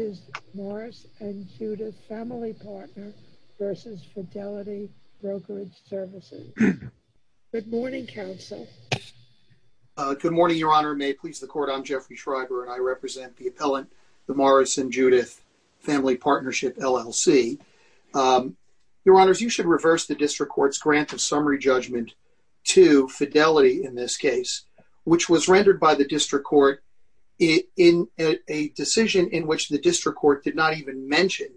is Morris and Judith Family Partner versus Fidelity Brokerage Services. Good morning, counsel. Good morning, Your Honor. May it please the court, I'm Jeffrey Schreiber and I represent the appellant, the Morris and Judith Family Partnership, LLC. Your Honors, you should reverse the district court's grant of summary judgment to Fidelity in this case, which was rendered by the district court in a decision in which the district court did not even mention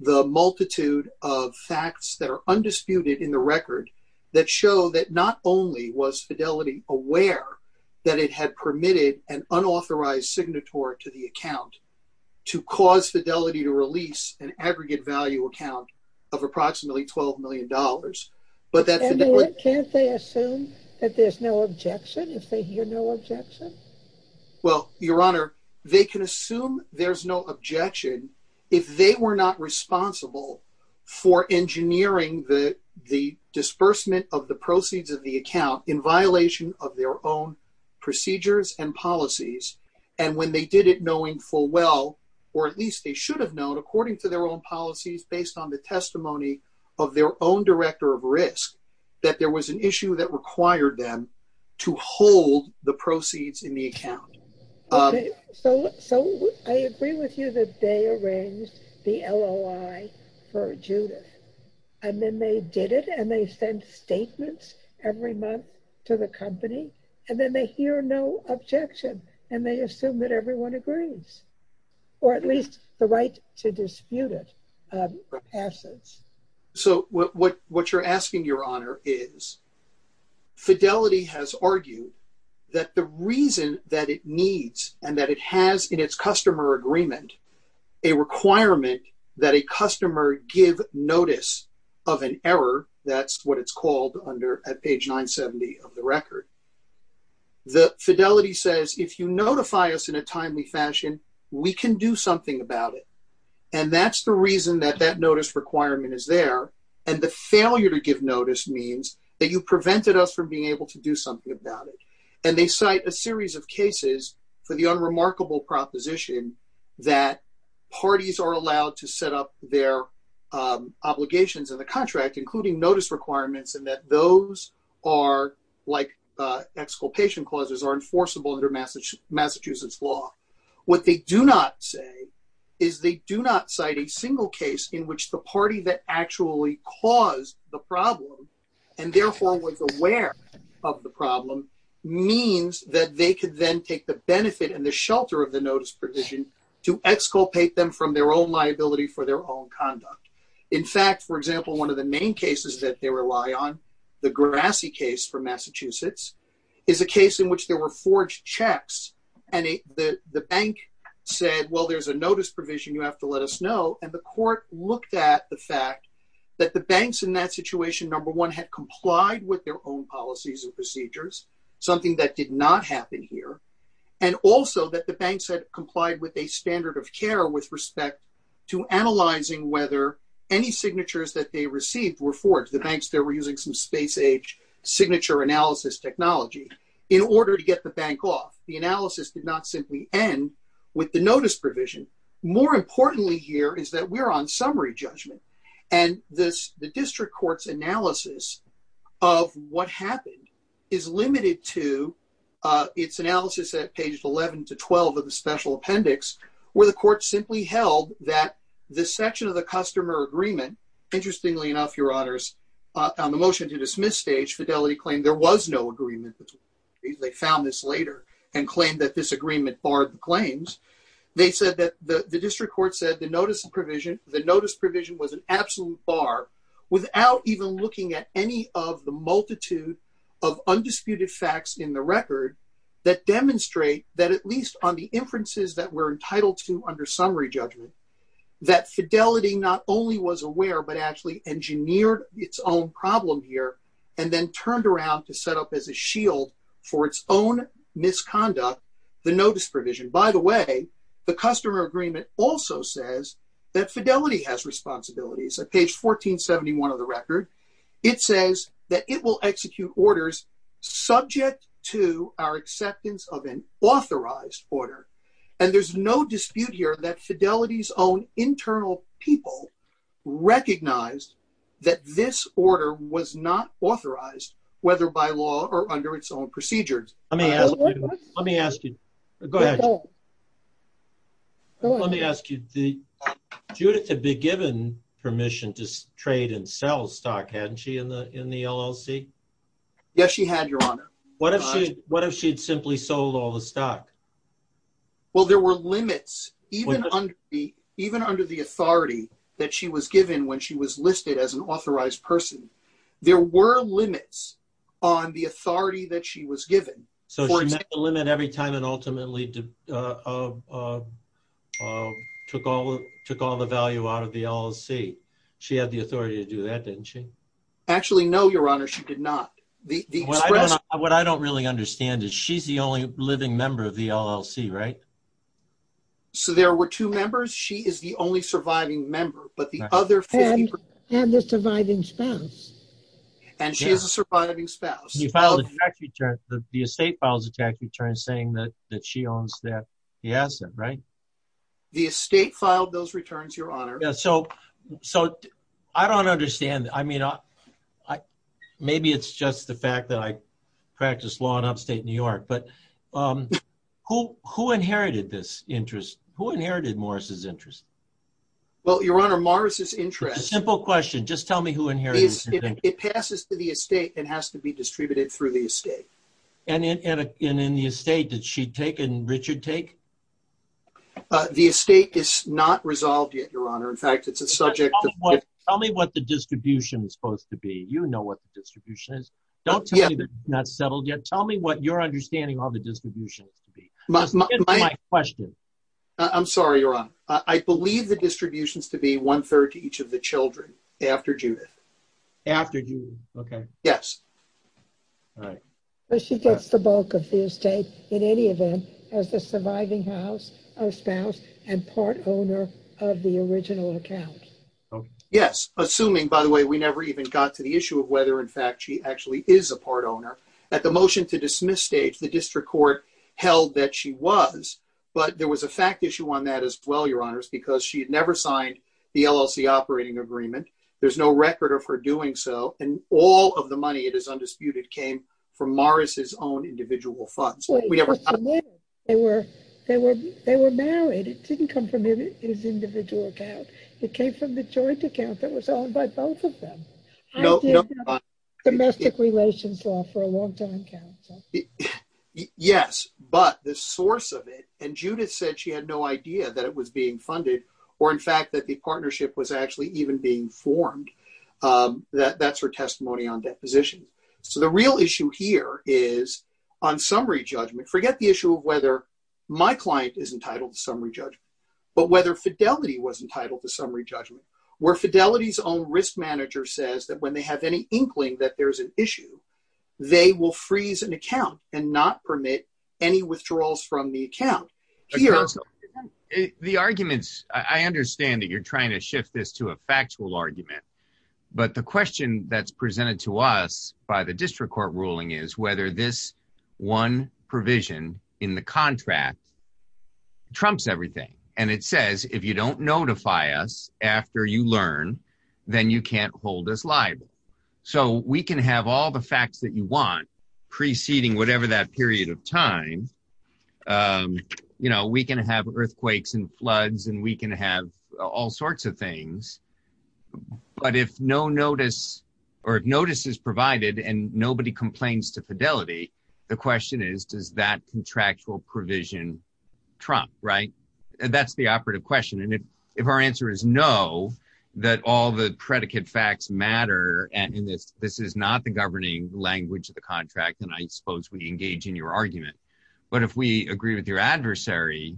the multitude of facts that are undisputed in the record that show that not only was Fidelity aware that it had permitted an unauthorized signatory to the account to cause Fidelity to release an aggregate value account of approximately $12 million, but that Fidelity- Can't they assume that there's no objection if they hear no objection? Well, Your Honor, they can assume there's no objection if they were not responsible for engineering the disbursement of the proceeds of the account in violation of their own procedures and policies. And when they did it knowing full well, or at least they should have known according to their own policies based on the testimony of their own director of risk, that there was an issue that required them to hold the proceeds in the account. So I agree with you that they arranged the LOI for Judith. And then they did it, and they sent statements every month to the company. And then they hear no objection, and they assume that everyone agrees, or at least the right So what you're asking, Your Honor, is Fidelity has argued that the reason that it needs and that it has in its customer agreement a requirement that a customer give notice of an error, that's what it's called under at page 970 of the record, that Fidelity says, if you notify us in a timely fashion, we can do something about it. And that's the reason that that notice requirement is there. And the failure to give notice means that you prevented us from being able to do something about it. And they cite a series of cases for the unremarkable proposition that parties are allowed to set up their obligations in the contract, including notice requirements, and that those are like exculpation clauses are enforceable under Massachusetts law. What they do not say is they do not cite a single case in which the party that actually caused the problem, and therefore was aware of the problem, means that they could then take the benefit and the shelter of the notice provision to exculpate them from their own liability for their own conduct. In fact, for example, one of the main cases that they rely on, the Grassy case from Massachusetts, is a case in which there were forged checks. And the bank said, well, there's a notice provision. You have to let us know. And the court looked at the fact that the banks in that situation, number one, had complied with their own policies and procedures, something that did not happen here, and also that the banks had complied with a standard of care with respect to analyzing whether any signatures that they received were forged. The banks there were using some space age signature analysis technology in order to get the bank off. The analysis did not simply end with the notice provision. More importantly here is that we're on summary judgment. And the district court's analysis of what happened is limited to its analysis at pages 11 to 12 of the special appendix, where the court simply held that this section of the customer agreement, interestingly enough, your honors, on the motion to dismiss stage, Fidelity claimed there was no agreement. They found this later and claimed that this agreement barred the claims. They said that the district court said the notice provision was an absolute bar without even looking at any of the multitude of undisputed facts in the record that demonstrate that at least on the inferences that we're entitled to under summary judgment, that Fidelity not only was aware but actually engineered its own problem here and then turned around to set up as a shield for its own misconduct, the notice provision. By the way, the customer agreement also says that Fidelity has responsibilities. At page 1471 of the record, it says that it will execute orders subject to our acceptance of an authorized order. And there's no dispute here that Fidelity's own internal people recognized that this order was not authorized, whether by law or under its own procedures. Let me ask you. Let me ask you. Go ahead. Let me ask you. Judith had been given permission to trade and sell stock, hadn't she, in the LLC? Yes, she had, Your Honor. What if she'd simply sold all the stock? Well, there were limits even under the authority that she was given when she was listed as an authorized person. There were limits on the authority that she was given. So she met the limit every time and ultimately took all the value out of the LLC. She had the authority to do that, didn't she? Actually, no, Your Honor. She did not. What I don't really understand is she's the only living member of the LLC, right? So there were two members. She is the only surviving member. But the other 50%- And the surviving spouse. And she is a surviving spouse. The estate files a tax return saying that she owns that asset, right? The estate filed those returns, Your Honor. So I don't understand. I mean, maybe it's just the fact that I practice law in upstate New York. But who inherited this interest? Who inherited Morris's interest? Well, Your Honor, Morris's interest- Simple question. Just tell me who inherited this interest. It passes to the estate and has to be distributed through the estate. And in the estate, did she take and Richard take? The estate is not resolved yet, Your Honor. In fact, it's a subject of- Tell me what the distribution is supposed to be. You know what the distribution is. Don't tell me that it's not settled yet. That's my question. I'm sorry, Your Honor. I believe the distribution is to be one third to each of the children after Judith. After Judith, okay. Yes. All right. But she gets the bulk of the estate in any event as the surviving spouse and part owner of the original account. Yes. Assuming, by the way, we never even got to the issue of whether in fact she actually is a part owner. At the motion to dismiss stage, the district court held that she was. But there was a fact issue on that as well, Your Honors, because she had never signed the LLC operating agreement. There's no record of her doing so. And all of the money, it is undisputed, came from Morris's own individual funds. We never- They were married. It didn't come from his individual account. It came from the joint account No- Domestic relations law for a long time, counsel. Yes, but the source of it, and Judith said she had no idea that it was being funded, or in fact that the partnership was actually even being formed, that's her testimony on deposition. So the real issue here is on summary judgment. Forget the issue of whether my client is entitled to summary judgment, but whether Fidelity was entitled to summary judgment. Where Fidelity's own risk manager says that when they have any inkling that there's an issue, they will freeze an account and not permit any withdrawals from the account. Here- Counsel, the arguments, I understand that you're trying to shift this to a factual argument, but the question that's presented to us by the district court ruling is whether this one provision in the contract trumps everything. then you can't hold us liable. So we can have all the facts that you want preceding whatever that period of time, we can have earthquakes and floods, and we can have all sorts of things, but if no notice, or if notice is provided and nobody complains to Fidelity, the question is, does that contractual provision trump? That's the operative question. And if our answer is no, that all the predicate facts matter, and this is not the governing language of the contract, and I suppose we engage in your argument, but if we agree with your adversary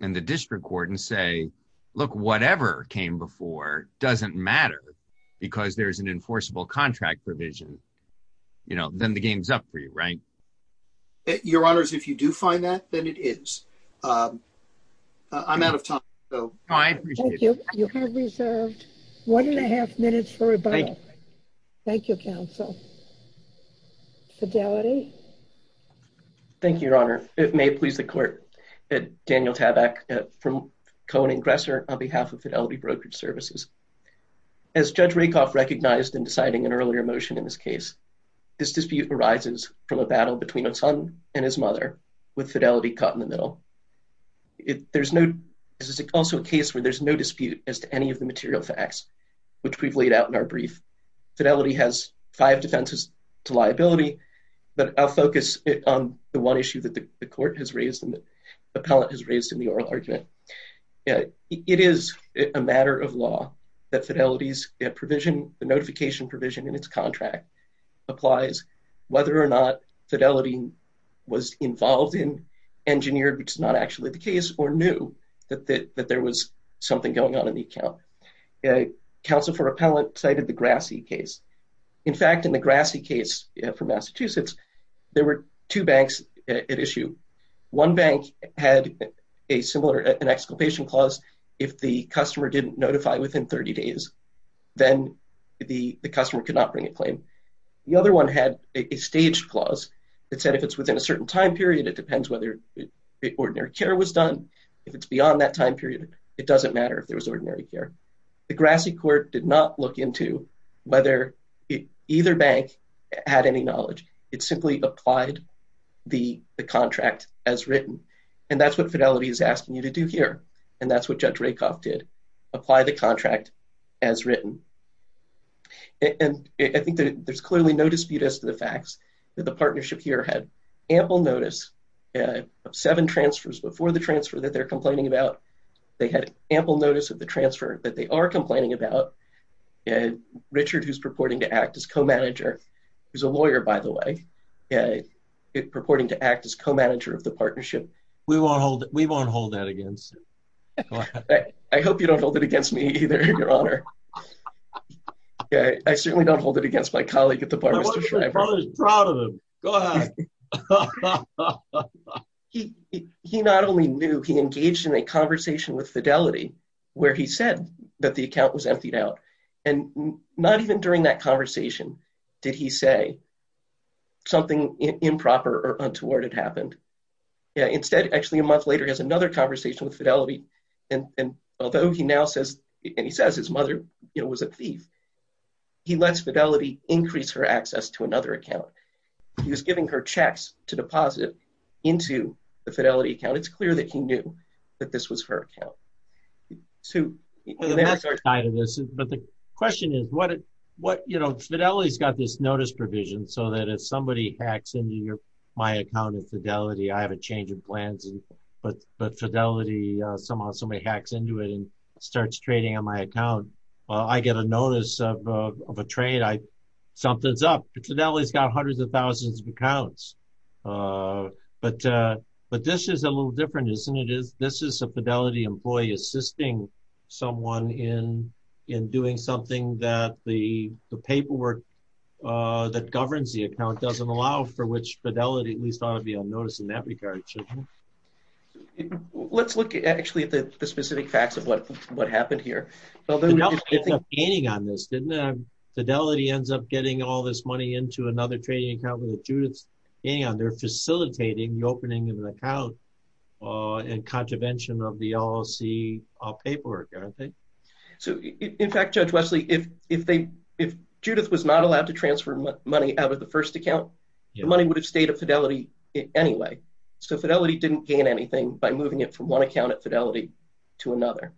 and the district court and say, look, whatever came before doesn't matter because there's an enforceable contract provision, then the game's up for you, right? Your honors, if you do find that, then it is. I'm out of time, so- No, I appreciate it. You have reserved one and a half minutes for rebuttal. Thank you, counsel. Fidelity? Thank you, your honor. It may please the court. Daniel Tabak from Cohen & Gresser on behalf of Fidelity Brokerage Services. As Judge Rakoff recognized in deciding an earlier motion in this case, this dispute arises from a battle between a son and his mother with Fidelity caught in the middle. There's no, this is also a case where there's no dispute as to any of the material facts, which we've laid out in our brief. Fidelity has five defenses to liability, but I'll focus on the one issue that the court has raised and the appellant has raised in the oral argument. It is a matter of law that Fidelity's provision, the notification provision in its contract applies whether or not Fidelity was involved in, engineered, which is not actually the case, or knew that there was something going on in the account. Counsel for appellant cited the Grassi case. In fact, in the Grassi case from Massachusetts, there were two banks at issue. One bank had a similar, an exculpation clause. If the customer didn't notify within 30 days, then the customer could not bring a claim. The other one had a staged clause that said if it's within a certain time period, it depends whether ordinary care was done. If it's beyond that time period, it doesn't matter if there was ordinary care. The Grassi court did not look into whether either bank had any knowledge. It simply applied the contract as written. And that's what Fidelity is asking you to do here. And that's what Judge Rakoff did, apply the contract as written. And I think that there's clearly no dispute as to the facts that the partnership here had ample notice of seven transfers before the transfer that they're complaining about. They had ample notice of the transfer that they are complaining about. And Richard, who's purporting to act as co-manager, who's a lawyer, by the way, purporting to act as co-manager of the partnership. We won't hold that against. I hope you don't hold it against me either, Your Honor. I certainly don't hold it against my colleague at the bar, Mr. Schreiber. My brother's proud of him. Go ahead. He not only knew, he engaged in a conversation with Fidelity where he said that the account was emptied out. And not even during that conversation did he say something improper or untoward had happened. Yeah, instead, actually a month later, he has another conversation with Fidelity. And although he now says, and he says his mother was a thief, he lets Fidelity increase her access to another account. He was giving her checks to deposit into the Fidelity account. It's clear that he knew that this was her account. So- But the question is what, you know, Fidelity's got this notice provision so that if somebody hacks into my account at Fidelity, I have a change of plans, but Fidelity, somehow somebody hacks into it and starts trading on my account. I get a notice of a trade. Something's up. Fidelity's got hundreds of thousands of accounts. But this is a little different, isn't it? This is a Fidelity employee assisting someone in doing something that the paperwork that governs the account doesn't allow for which Fidelity at least ought to be on notice in that regard. Let's look actually at the specific facts of what happened here. Well, then- Fidelity ends up gaining on this, didn't it? Fidelity ends up getting all this money into another trading account that Judith's gaining on. They're facilitating the opening of an account and contravention of the LLC paperwork, aren't they? So in fact, Judge Wesley, if Judith was not allowed to transfer money out of the first account, the money would have stayed at Fidelity anyway. So Fidelity didn't gain anything by moving it from one account at Fidelity to another.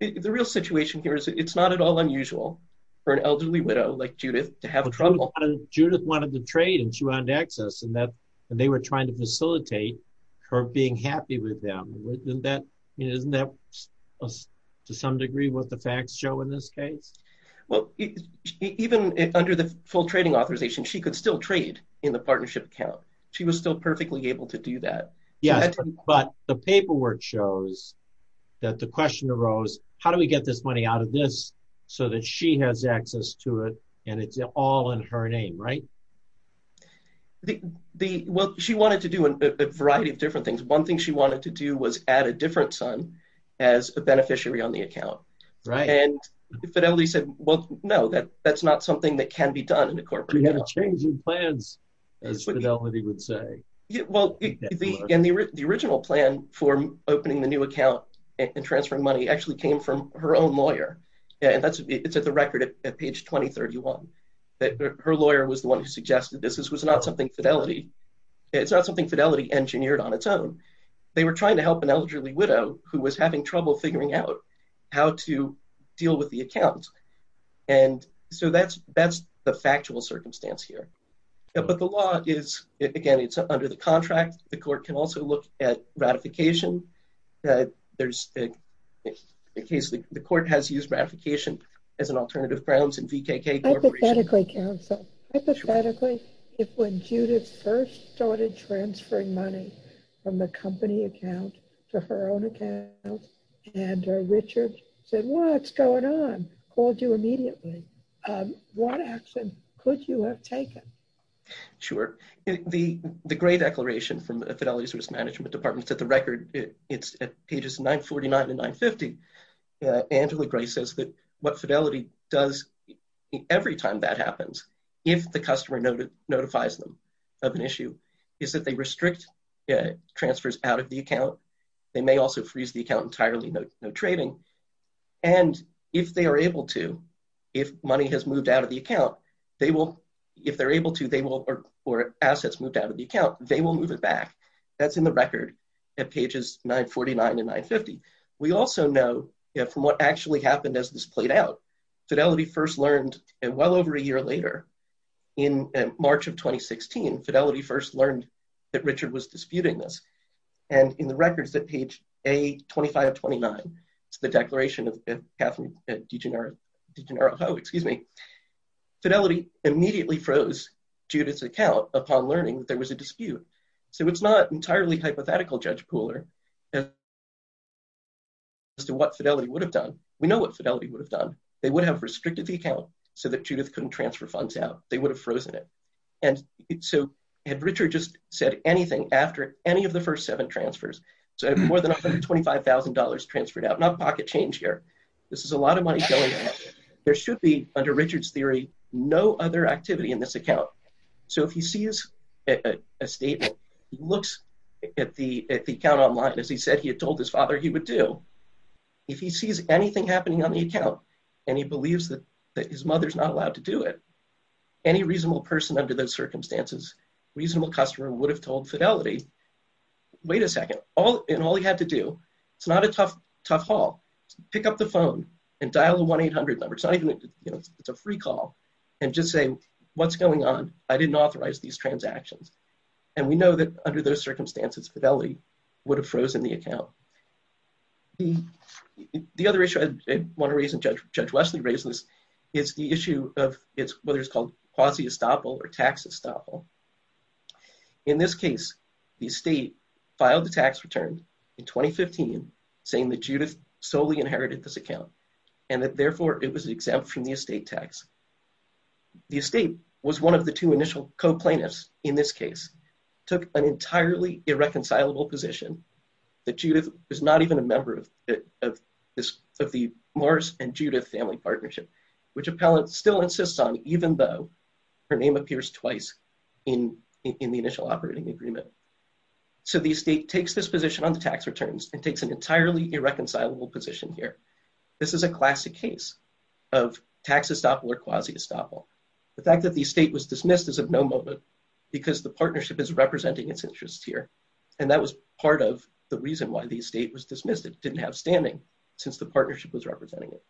The real situation here is it's not at all unusual for an elderly widow like Judith to have trouble. Judith wanted to trade and she wanted access and they were trying to facilitate her being happy with them. Isn't that, to some degree, what the facts show in this case? Well, even under the full trading authorization, she could still trade in the partnership account. She was still perfectly able to do that. Yeah, but the paperwork shows that the question arose, how do we get this money out of this so that she has access to it and it's all in her name, right? Well, she wanted to do a variety of different things. One thing she wanted to do was add a different son as a beneficiary on the account. Right. And Fidelity said, well, no, that's not something that can be done in a corporate account. You had a change in plans, as Fidelity would say. Well, the original plan for opening the new account and transferring money actually came from her own lawyer. And it's at the record at page 2031 that her lawyer was the one who suggested this. This was not something Fidelity, it's not something Fidelity engineered on its own. They were trying to help an elderly widow who was having trouble figuring out how to deal with the account. And so that's the factual circumstance here. But the law is, again, it's under the contract. The court can also look at ratification. The court has used ratification as an alternative grounds in VKK Corporation. Hypothetically, counsel, hypothetically, if when Judith first started transferring money from the company account to her own account and Richard said, what's going on? Called you immediately. What action could you have taken? Sure, the Gray Declaration from Fidelity's Risk Management Department's at the record, it's at pages 949 to 950. Angela Gray says that what Fidelity does every time that happens, if the customer notifies them of an issue, is that they restrict transfers out of the account. They may also freeze the account entirely, no trading. And if they are able to, if money has moved out of the account, they will, if they're able to, they will, or assets moved out of the account, they will move it back. That's in the record at pages 949 to 950. We also know from what actually happened as this played out, Fidelity first learned, and well over a year later, in March of 2016, Fidelity first learned that Richard was disputing this. And in the records at page A25 of 29, it's the declaration of Kathleen DiGennaro, DiGennaro, oh, excuse me. Fidelity immediately froze Judith's account upon learning that there was a dispute. So it's not entirely hypothetical, Judge Pooler, as to what Fidelity would have done. We know what Fidelity would have done. They would have restricted the account so that Judith couldn't transfer funds out. They would have frozen it. And so had Richard just said anything after any of the first seven transfers, so more than $125,000 transferred out, not a pocket change here. This is a lot of money going in. There should be, under Richard's theory, no other activity in this account. So if he sees a statement, looks at the account online, as he said he had told his father he would do, if he sees anything happening on the account, and he believes that his mother's not allowed to do it, any reasonable person under those circumstances, reasonable customer would have told Fidelity, wait a second, in all he had to do, it's not a tough haul, pick up the phone and dial the 1-800 number. It's not even, it's a free call, and just say, what's going on? I didn't authorize these transactions. And we know that under those circumstances, Fidelity would have frozen the account. The other issue I wanna raise, and Judge Wesley raised this, is the issue of whether it's called quasi-estoppel or tax estoppel. In this case, the estate filed the tax return in 2015, saying that Judith solely inherited this account, and that therefore it was exempt from the estate tax. The estate was one of the two initial co-plaintiffs in this case, took an entirely irreconcilable position that Judith is not even a member of the Morris and Judith family partnership, which appellant still insists on, even though her name appears twice in the initial operating agreement. So the estate takes this position on the tax returns and takes an entirely irreconcilable position here. This is a classic case of tax estoppel or quasi-estoppel. The fact that the estate was dismissed is of no moment because the partnership is representing its interests here. And that was part of the reason why the estate was dismissed. It didn't have standing since the partnership was representing it.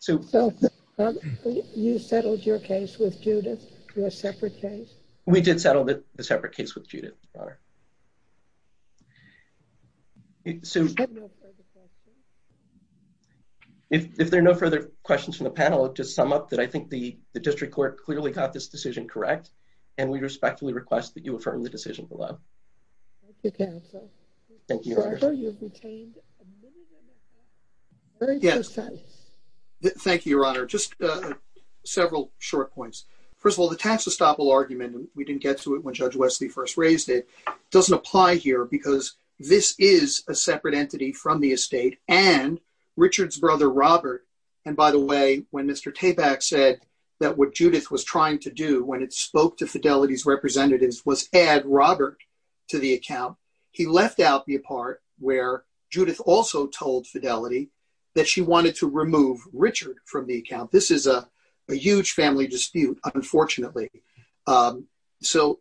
Sue. You settled your case with Judith, your separate case? We did settle the separate case with Judith, Your Honor. Sue. If there are no further questions from the panel, I'll just sum up that I think the district court clearly got this decision correct, and we respectfully request Thank you, counsel. Thank you, Your Honor. I'm sure you've retained a minimum amount, very precise. Thank you, Your Honor. Just several short points. First of all, the tax estoppel argument, we didn't get to it when Judge Wesley first raised it, doesn't apply here because this is a separate entity from the estate and Richard's brother, Robert. And by the way, when Mr. Tabak said that what Judith was trying to do when it spoke to Fidelity's representatives was add Robert to the account, he left out the part where Judith also told Fidelity that she wanted to remove Richard from the account. This is a huge family dispute, unfortunately. So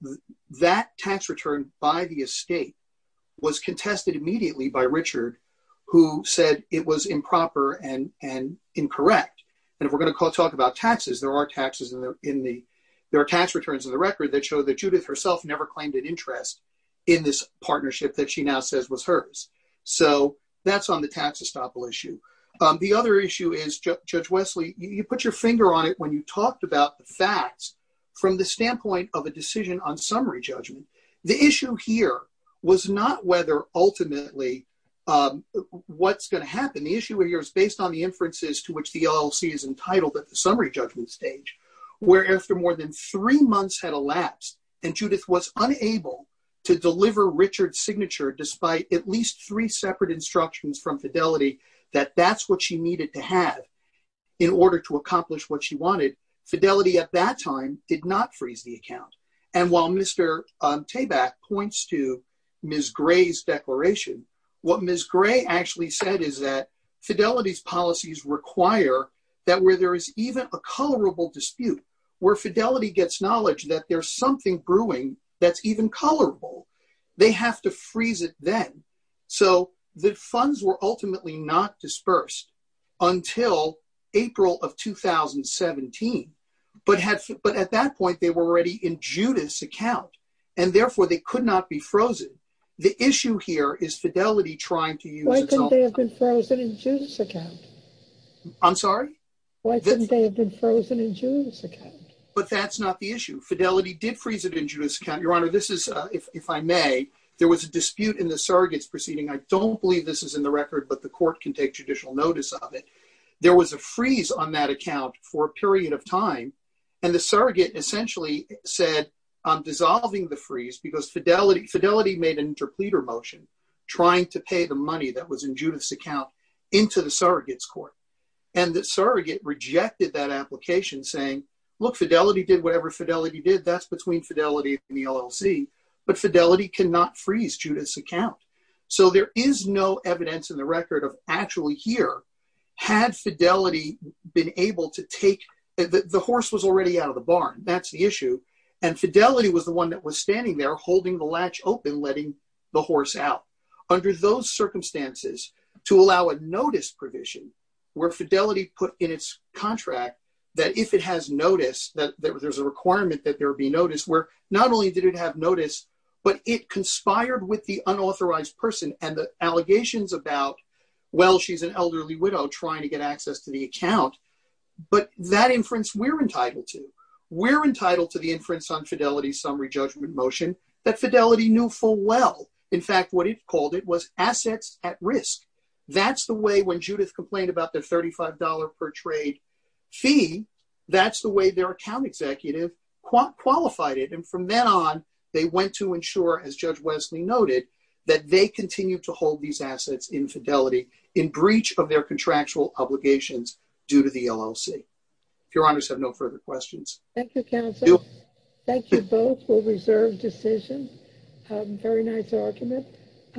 that tax return by the estate was contested immediately by Richard, who said it was improper and incorrect. And if we're gonna talk about taxes, there are tax returns in the record that show that Judith herself never claimed an interest in this partnership that she now says was hers. So that's on the tax estoppel issue. The other issue is, Judge Wesley, you put your finger on it when you talked about the facts from the standpoint of a decision on summary judgment. The issue here was not whether ultimately what's gonna happen. The issue here is based on the inferences to which the LLC is entitled at the summary judgment stage, where after more than three months had elapsed and Judith was unable to deliver Richard's signature despite at least three separate instructions from Fidelity that that's what she needed to have in order to accomplish what she wanted, Fidelity at that time did not freeze the account. And while Mr. Tabak points to Ms. Gray's declaration, what Ms. Gray actually said is that Fidelity's policies require that where there is even a colorable dispute, where Fidelity gets knowledge that there's something brewing that's even colorable, they have to freeze it then. So the funds were ultimately not dispersed until April of 2017. But at that point, they were already in Judith's account and therefore they could not be frozen. The issue here is Fidelity trying to use- Why couldn't they have been frozen in Judith's account? I'm sorry? Why couldn't they have been frozen in Judith's account? But that's not the issue. Fidelity did freeze it in Judith's account. Your Honor, this is, if I may, there was a dispute in the surrogate's proceeding. I don't believe this is in the record, but the court can take judicial notice of it. There was a freeze on that account for a period of time. And the surrogate essentially said, I'm dissolving the freeze because Fidelity, Fidelity made an interpleader motion trying to pay the money that was in Judith's account into the surrogate's court. And the surrogate rejected that application saying, look, Fidelity did whatever Fidelity did. That's between Fidelity and the LLC, but Fidelity cannot freeze Judith's account. So there is no evidence in the record of actually here, had Fidelity been able to take- The horse was already out of the barn. That's the issue. And Fidelity was the one that was standing there holding the latch open, letting the horse out. Under those circumstances, to allow a notice provision where Fidelity put in its contract that if it has notice, that there's a requirement that there be notice where not only did it have notice, but it conspired with the unauthorized person and the allegations about, well, she's an elderly widow trying to get access to the account. But that inference we're entitled to. We're entitled to the inference on Fidelity's summary judgment motion that Fidelity knew full well. In fact, what it called it was assets at risk. That's the way when Judith complained about the $35 per trade fee, that's the way their account executive qualified it. And from then on, they went to ensure, as Judge Wesley noted, that they continue to hold these assets in Fidelity in breach of their contractual obligations due to the LLC. If your honors have no further questions. Thank you, counsel. Thank you both for reserved decisions. Very nice argument.